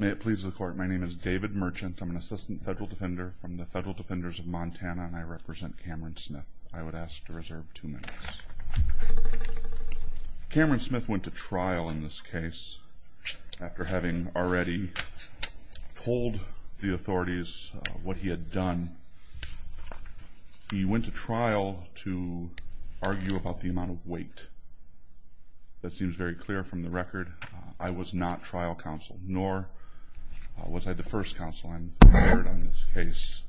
May it please the court, my name is David Merchant. I'm an assistant federal defender from the Federal Defenders of Montana, and I represent Cameron Smith. I would ask to reserve two minutes. Cameron Smith went to trial in this case after having already told the authorities what he had done. He went to trial to argue about the amount of weight. That seems very clear from the record. I was not trial counsel, nor was I the first counsel I heard on this case.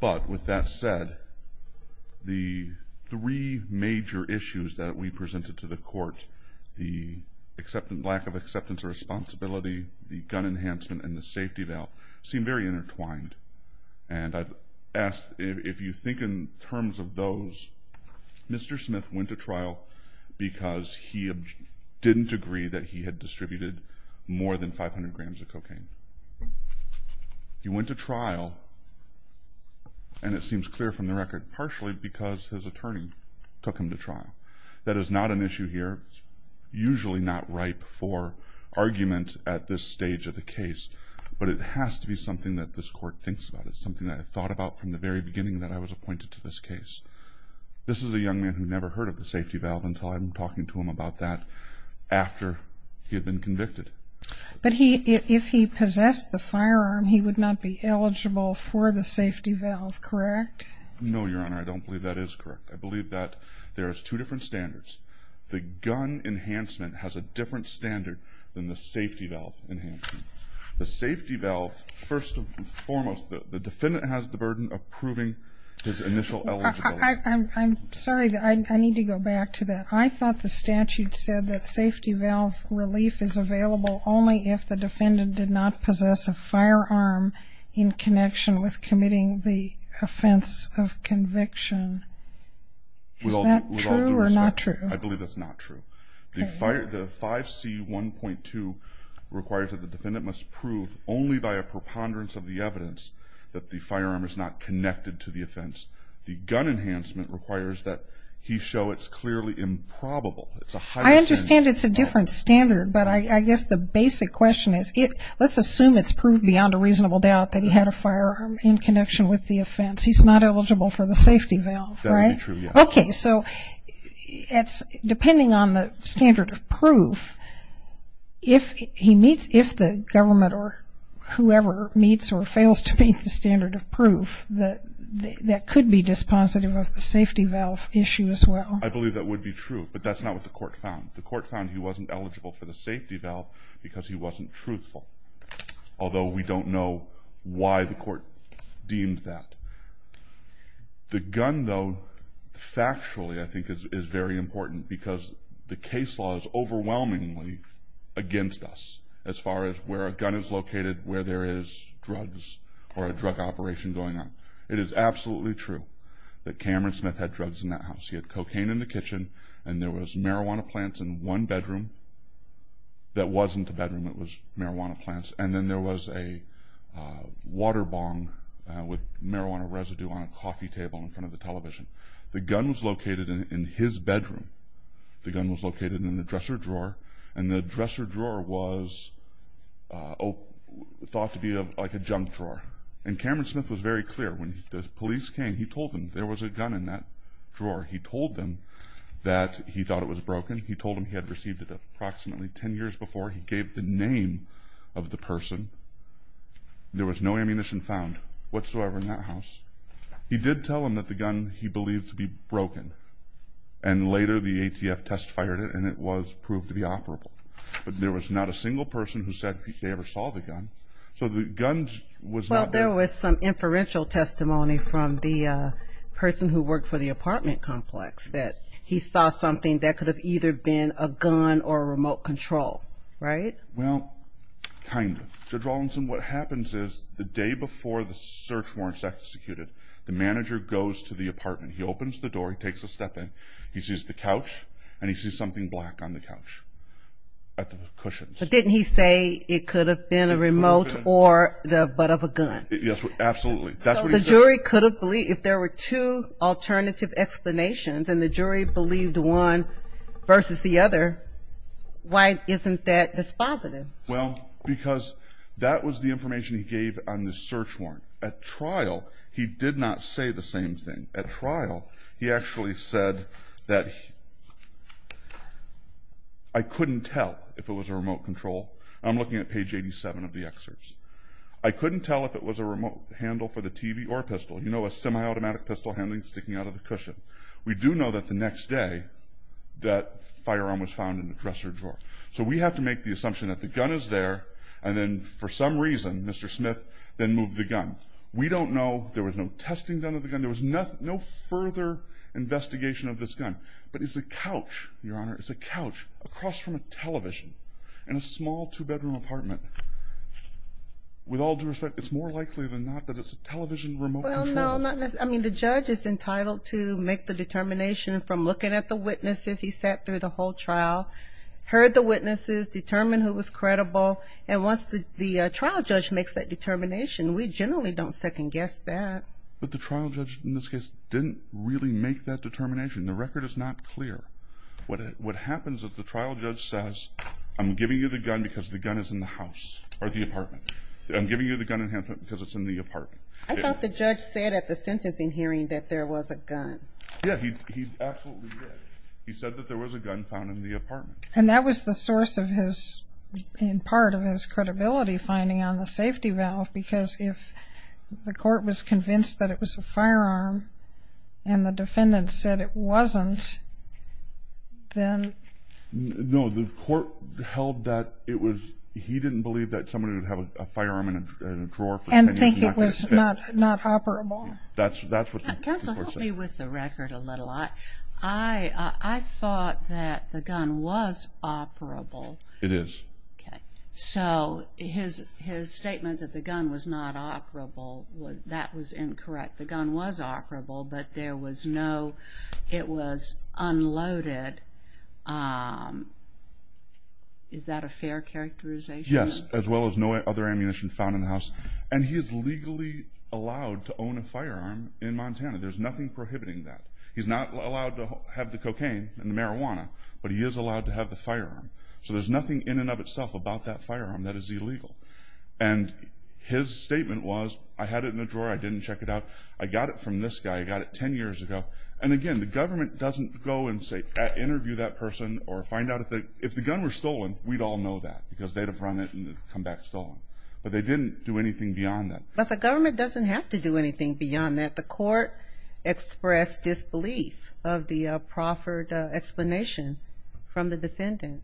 But with that said, the three major issues that we presented to the court, the lack of acceptance of responsibility, the gun enhancement, and the safety valve, seem very intertwined. And if you think in terms of those, Mr. Smith went to trial because he didn't agree that he had distributed more than 500 grams of cocaine. He went to trial, and it seems clear from the record, partially because his attorney took him to trial. That is not an issue here. It's usually not ripe for argument at this stage of the case. But it has to be something that this court thinks about. It's something that I thought about from the very beginning that I was appointed to this case. This is a young man who never heard of the safety valve until I'm talking to him about that after he had been convicted. But if he possessed the firearm, he would not be eligible for the safety valve, correct? No, Your Honor. I don't believe that is correct. I believe that there is two different standards. The gun enhancement has a different standard than the safety valve enhancement. The safety valve, first and foremost, the defendant has the burden of proving his initial eligibility. I'm sorry. I need to go back to that. I thought the statute said that safety valve relief is available only if the defendant did not possess a firearm in connection with committing the offense of conviction. Is that true or not true? I believe that's not true. The 5C1.2 requires that the defendant must prove only by a preponderance of the evidence that the firearm is not connected to the offense. The gun enhancement requires that he show it's clearly improbable. I understand it's a different standard, but I guess the basic question is let's assume it's proved beyond a reasonable doubt that he had a firearm in connection with the offense. He's not eligible for the safety valve, right? That would be true, yes. So depending on the standard of proof, if the government or whoever meets or fails to meet the standard of proof, that could be dispositive of the safety valve issue as well. I believe that would be true, but that's not what the court found. The court found he wasn't eligible for the safety valve because he wasn't truthful, although we don't know why the court deemed that. The gun, though, factually I think is very important because the case law is overwhelmingly against us as far as where a gun is located, where there is drugs or a drug operation going on. It is absolutely true that Cameron Smith had drugs in that house. He had cocaine in the kitchen, and there was marijuana plants in one bedroom that wasn't a bedroom. It was marijuana plants, and then there was a water bong with marijuana residue on a coffee table in front of the television. The gun was located in his bedroom. The gun was located in the dresser drawer, and the dresser drawer was thought to be like a junk drawer. And Cameron Smith was very clear. When the police came, he told them there was a gun in that drawer. He told them that he thought it was broken. He told them he had received it approximately 10 years before. He gave the name of the person. There was no ammunition found whatsoever in that house. He did tell them that the gun he believed to be broken, and later the ATF test fired it, and it was proved to be operable. But there was not a single person who said they ever saw the gun, so the gun was not there. Well, there was some inferential testimony from the person who worked for the apartment complex that he saw something that could have either been a gun or a remote control, right? Well, kind of. Judge Rawlinson, what happens is the day before the search warrant is executed, the manager goes to the apartment. He opens the door. He takes a step in. He sees the couch, and he sees something black on the couch at the cushions. But didn't he say it could have been a remote or the butt of a gun? Yes, absolutely. So the jury could have believed if there were two alternative explanations, and the jury believed one versus the other, why isn't that dispositive? Well, because that was the information he gave on the search warrant. At trial, he did not say the same thing. At trial, he actually said that I couldn't tell if it was a remote control. I'm looking at page 87 of the excerpts. I couldn't tell if it was a remote handle for the TV or a pistol. You know a semi-automatic pistol handling sticking out of the cushion. We do know that the next day that firearm was found in the dresser drawer. So we have to make the assumption that the gun is there, and then for some reason, Mr. Smith, then moved the gun. We don't know. There was no testing done of the gun. There was no further investigation of this gun. But it's a couch, Your Honor. It's a couch across from a television in a small two-bedroom apartment. With all due respect, it's more likely than not that it's a television remote control. Well, no, not necessarily. I mean, the judge is entitled to make the determination from looking at the witnesses. He sat through the whole trial, heard the witnesses, determined who was credible. And once the trial judge makes that determination, we generally don't second-guess that. But the trial judge, in this case, didn't really make that determination. The record is not clear. What happens is the trial judge says, I'm giving you the gun because the gun is in the house or the apartment. I'm giving you the gun in hand because it's in the apartment. I thought the judge said at the sentencing hearing that there was a gun. Yeah, he absolutely did. He said that there was a gun found in the apartment. And that was the source of his, in part of his, credibility finding on the safety valve because if the court was convinced that it was a firearm and the defendant said it wasn't, then... No, the court held that it was... He didn't believe that somebody would have a firearm in a drawer for 10 years... And think it was not operable. That's what the court said. Counsel, help me with the record a little. I thought that the gun was operable. It is. Okay. So his statement that the gun was not operable, that was incorrect. The gun was operable, but there was no, it was unloaded. Is that a fair characterization? Yes, as well as no other ammunition found in the house. And he is legally allowed to own a firearm in Montana. There's nothing prohibiting that. He's not allowed to have the cocaine and the marijuana, but he is allowed to have the firearm. So there's nothing in and of itself about that firearm that is illegal. And his statement was, I had it in the drawer. I didn't check it out. I got it from this guy. I got it 10 years ago. And again, the government doesn't go and say, interview that person or find out if the gun was stolen, we'd all know that because they'd have run it and come back stolen. But they didn't do anything beyond that. But the government doesn't have to do anything beyond that. The court expressed disbelief of the proffered explanation from the defendant.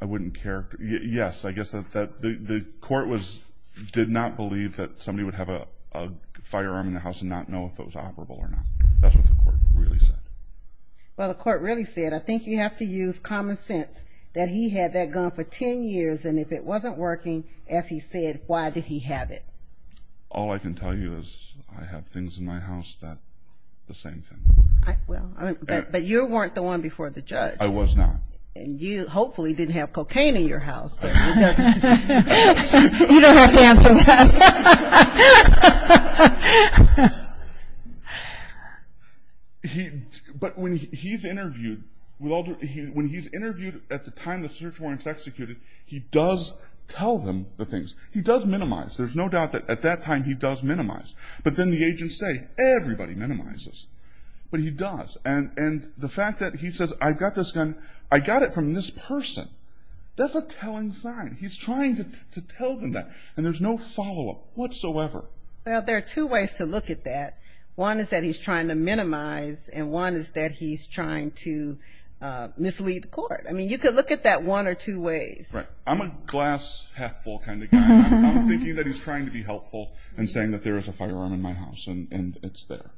I wouldn't care. Yes, I guess the court did not believe that somebody would have a firearm in the house and not know if it was operable or not. That's what the court really said. Well, the court really said, I think you have to use common sense, that he had that gun for 10 years, and if it wasn't working, as he said, why did he have it? All I can tell you is I have things in my house that are the same thing. But you weren't the one before the judge. I was not. And you hopefully didn't have cocaine in your house. You don't have to answer that. But when he's interviewed at the time the search warrants executed, he does tell them the things. He does minimize. There's no doubt that at that time he does minimize. But then the agents say, everybody minimizes. But he does. And the fact that he says, I've got this gun, I got it from this person, that's a telling sign. He's trying to tell them that. And there's no follow-up whatsoever. Well, there are two ways to look at that. One is that he's trying to minimize, and one is that he's trying to mislead the court. I mean, you could look at that one or two ways. Right. I'm a glass half full kind of guy. I'm thinking that he's trying to be helpful and saying that there is a firearm in my house and it's there.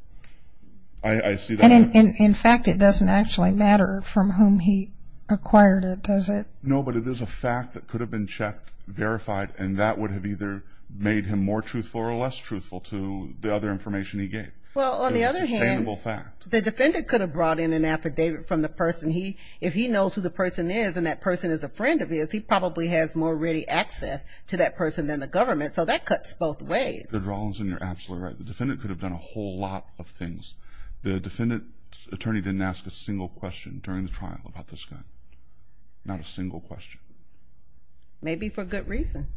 I see that. And, in fact, it doesn't actually matter from whom he acquired it, does it? No, but it is a fact that could have been checked, verified, and that would have either made him more truthful or less truthful to the other information he gave. Well, on the other hand, the defendant could have brought in an affidavit from the person. If he knows who the person is and that person is a friend of his, he probably has more ready access to that person than the government. So that cuts both ways. You're absolutely right. The defendant could have done a whole lot of things. The defendant attorney didn't ask a single question during the trial about this gun. Not a single question. Maybe for good reason.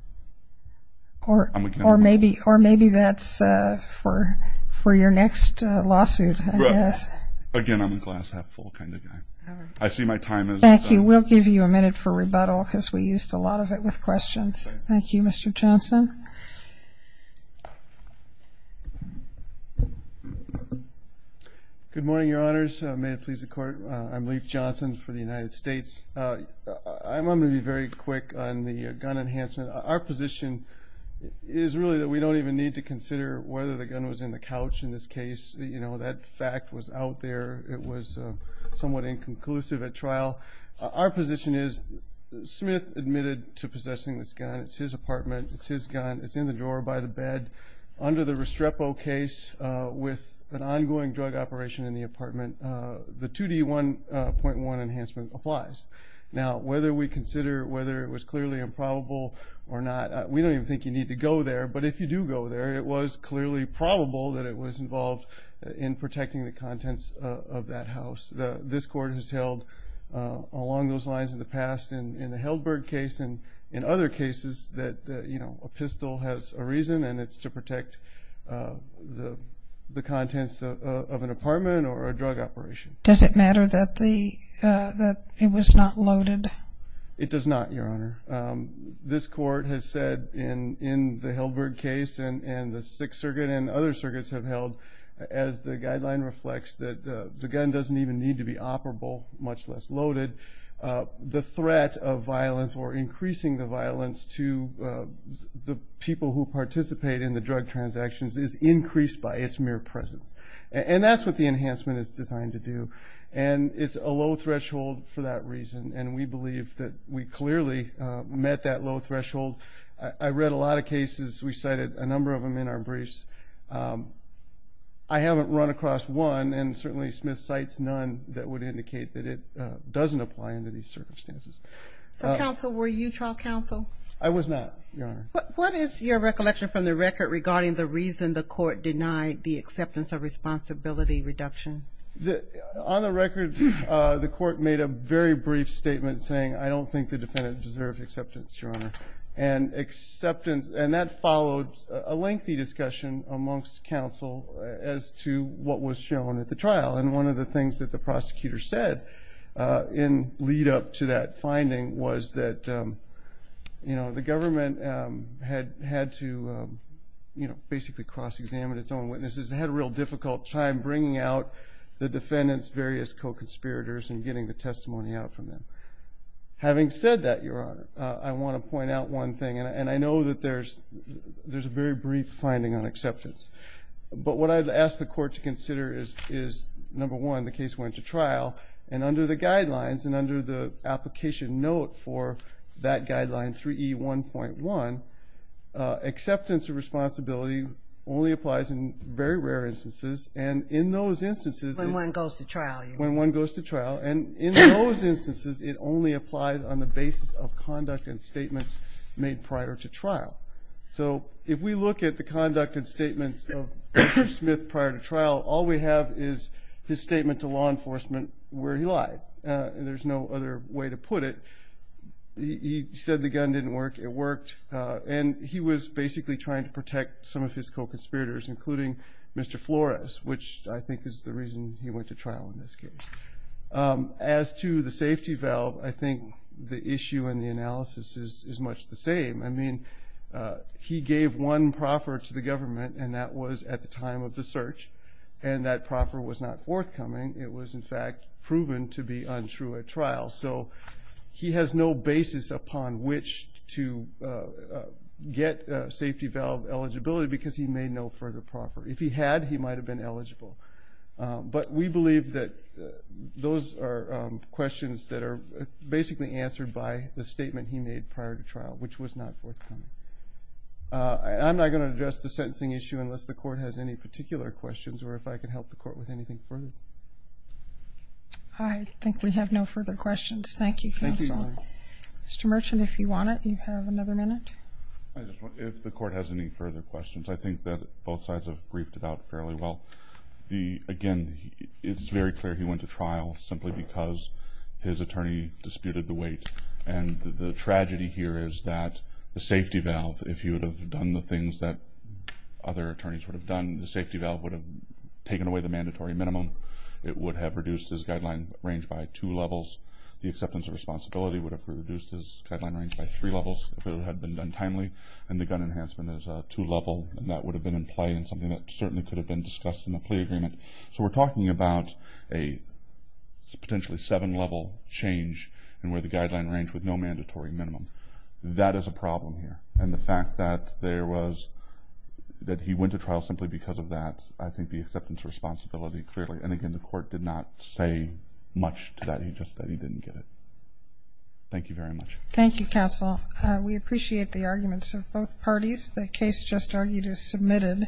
Or maybe that's for your next lawsuit, I guess. Again, I'm a glass half full kind of guy. I see my time is up. Thank you. We'll give you a minute for rebuttal because we used a lot of it with questions. Thank you, Mr. Johnson. Good morning, Your Honors. May it please the Court. I'm Leif Johnson for the United States. I'm going to be very quick on the gun enhancement. Our position is really that we don't even need to consider whether the gun was in the couch in this case. That fact was out there. It was somewhat inconclusive at trial. Our position is Smith admitted to possessing this gun. It's his apartment. It's in the drawer by the bed. Under the Restrepo case with an ongoing drug operation in the apartment, the 2D1.1 enhancement applies. Now, whether we consider whether it was clearly improbable or not, we don't even think you need to go there. But if you do go there, it was clearly probable that it was involved in protecting the contents of that house. This Court has held along those lines in the past in the Heldberg case and in other cases that a pistol has a reason and it's to protect the contents of an apartment or a drug operation. Does it matter that it was not loaded? It does not, Your Honor. This Court has said in the Heldberg case and the Sixth Circuit and other circuits have held, as the guideline reflects, that the gun doesn't even need to be operable, much less loaded. The threat of violence or increasing the violence to the people who participate in the drug transactions is increased by its mere presence. And that's what the enhancement is designed to do. And it's a low threshold for that reason, and we believe that we clearly met that low threshold. I read a lot of cases. We cited a number of them in our briefs. I haven't run across one, and certainly Smith cites none, that would indicate that it doesn't apply under these circumstances. So, counsel, were you trial counsel? I was not, Your Honor. What is your recollection from the record regarding the reason the Court denied the acceptance of responsibility reduction? On the record, the Court made a very brief statement saying, I don't think the defendant deserves acceptance, Your Honor. And that followed a lengthy discussion amongst counsel as to what was shown at the trial. And one of the things that the prosecutor said in lead-up to that finding was that, you know, the government had to basically cross-examine its own witnesses. They had a real difficult time bringing out the defendant's various co-conspirators and getting the testimony out from them. Having said that, Your Honor, I want to point out one thing, and I know that there's a very brief finding on acceptance. But what I've asked the Court to consider is, number one, the case went to trial, and under the guidelines and under the application note for that guideline, 3E1.1, acceptance of responsibility only applies in very rare instances. And in those instances- When one goes to trial, Your Honor. When one goes to trial. And in those instances, it only applies on the basis of conduct and statements made prior to trial. So if we look at the conduct and statements of Mr. Smith prior to trial, all we have is his statement to law enforcement where he lied, and there's no other way to put it. He said the gun didn't work. It worked. And he was basically trying to protect some of his co-conspirators, including Mr. Flores, which I think is the reason he went to trial in this case. As to the safety valve, I think the issue and the analysis is much the same. I mean, he gave one proffer to the government, and that was at the time of the search. And that proffer was not forthcoming. So he has no basis upon which to get safety valve eligibility because he made no further proffer. If he had, he might have been eligible. But we believe that those are questions that are basically answered by the statement he made prior to trial, which was not forthcoming. I'm not going to address the sentencing issue unless the Court has any particular questions or if I can help the Court with anything further. I think we have no further questions. Thank you, Counsel. Thank you, Your Honor. Mr. Merchant, if you want it, you have another minute. If the Court has any further questions, I think that both sides have briefed it out fairly well. Again, it's very clear he went to trial simply because his attorney disputed the weight. And the tragedy here is that the safety valve, if he would have done the things that other attorneys would have done, the safety valve would have taken away the mandatory minimum. It would have reduced his guideline range by two levels. The acceptance of responsibility would have reduced his guideline range by three levels if it had been done timely. And the gun enhancement is a two-level, and that would have been in play and something that certainly could have been discussed in the plea agreement. So we're talking about a potentially seven-level change in where the guideline range with no mandatory minimum. That is a problem here. And the fact that he went to trial simply because of that, I think the acceptance of responsibility clearly. And, again, the Court did not say much to that. He just said he didn't get it. Thank you very much. Thank you, Counsel. We appreciate the arguments of both parties. The case just argued is submitted.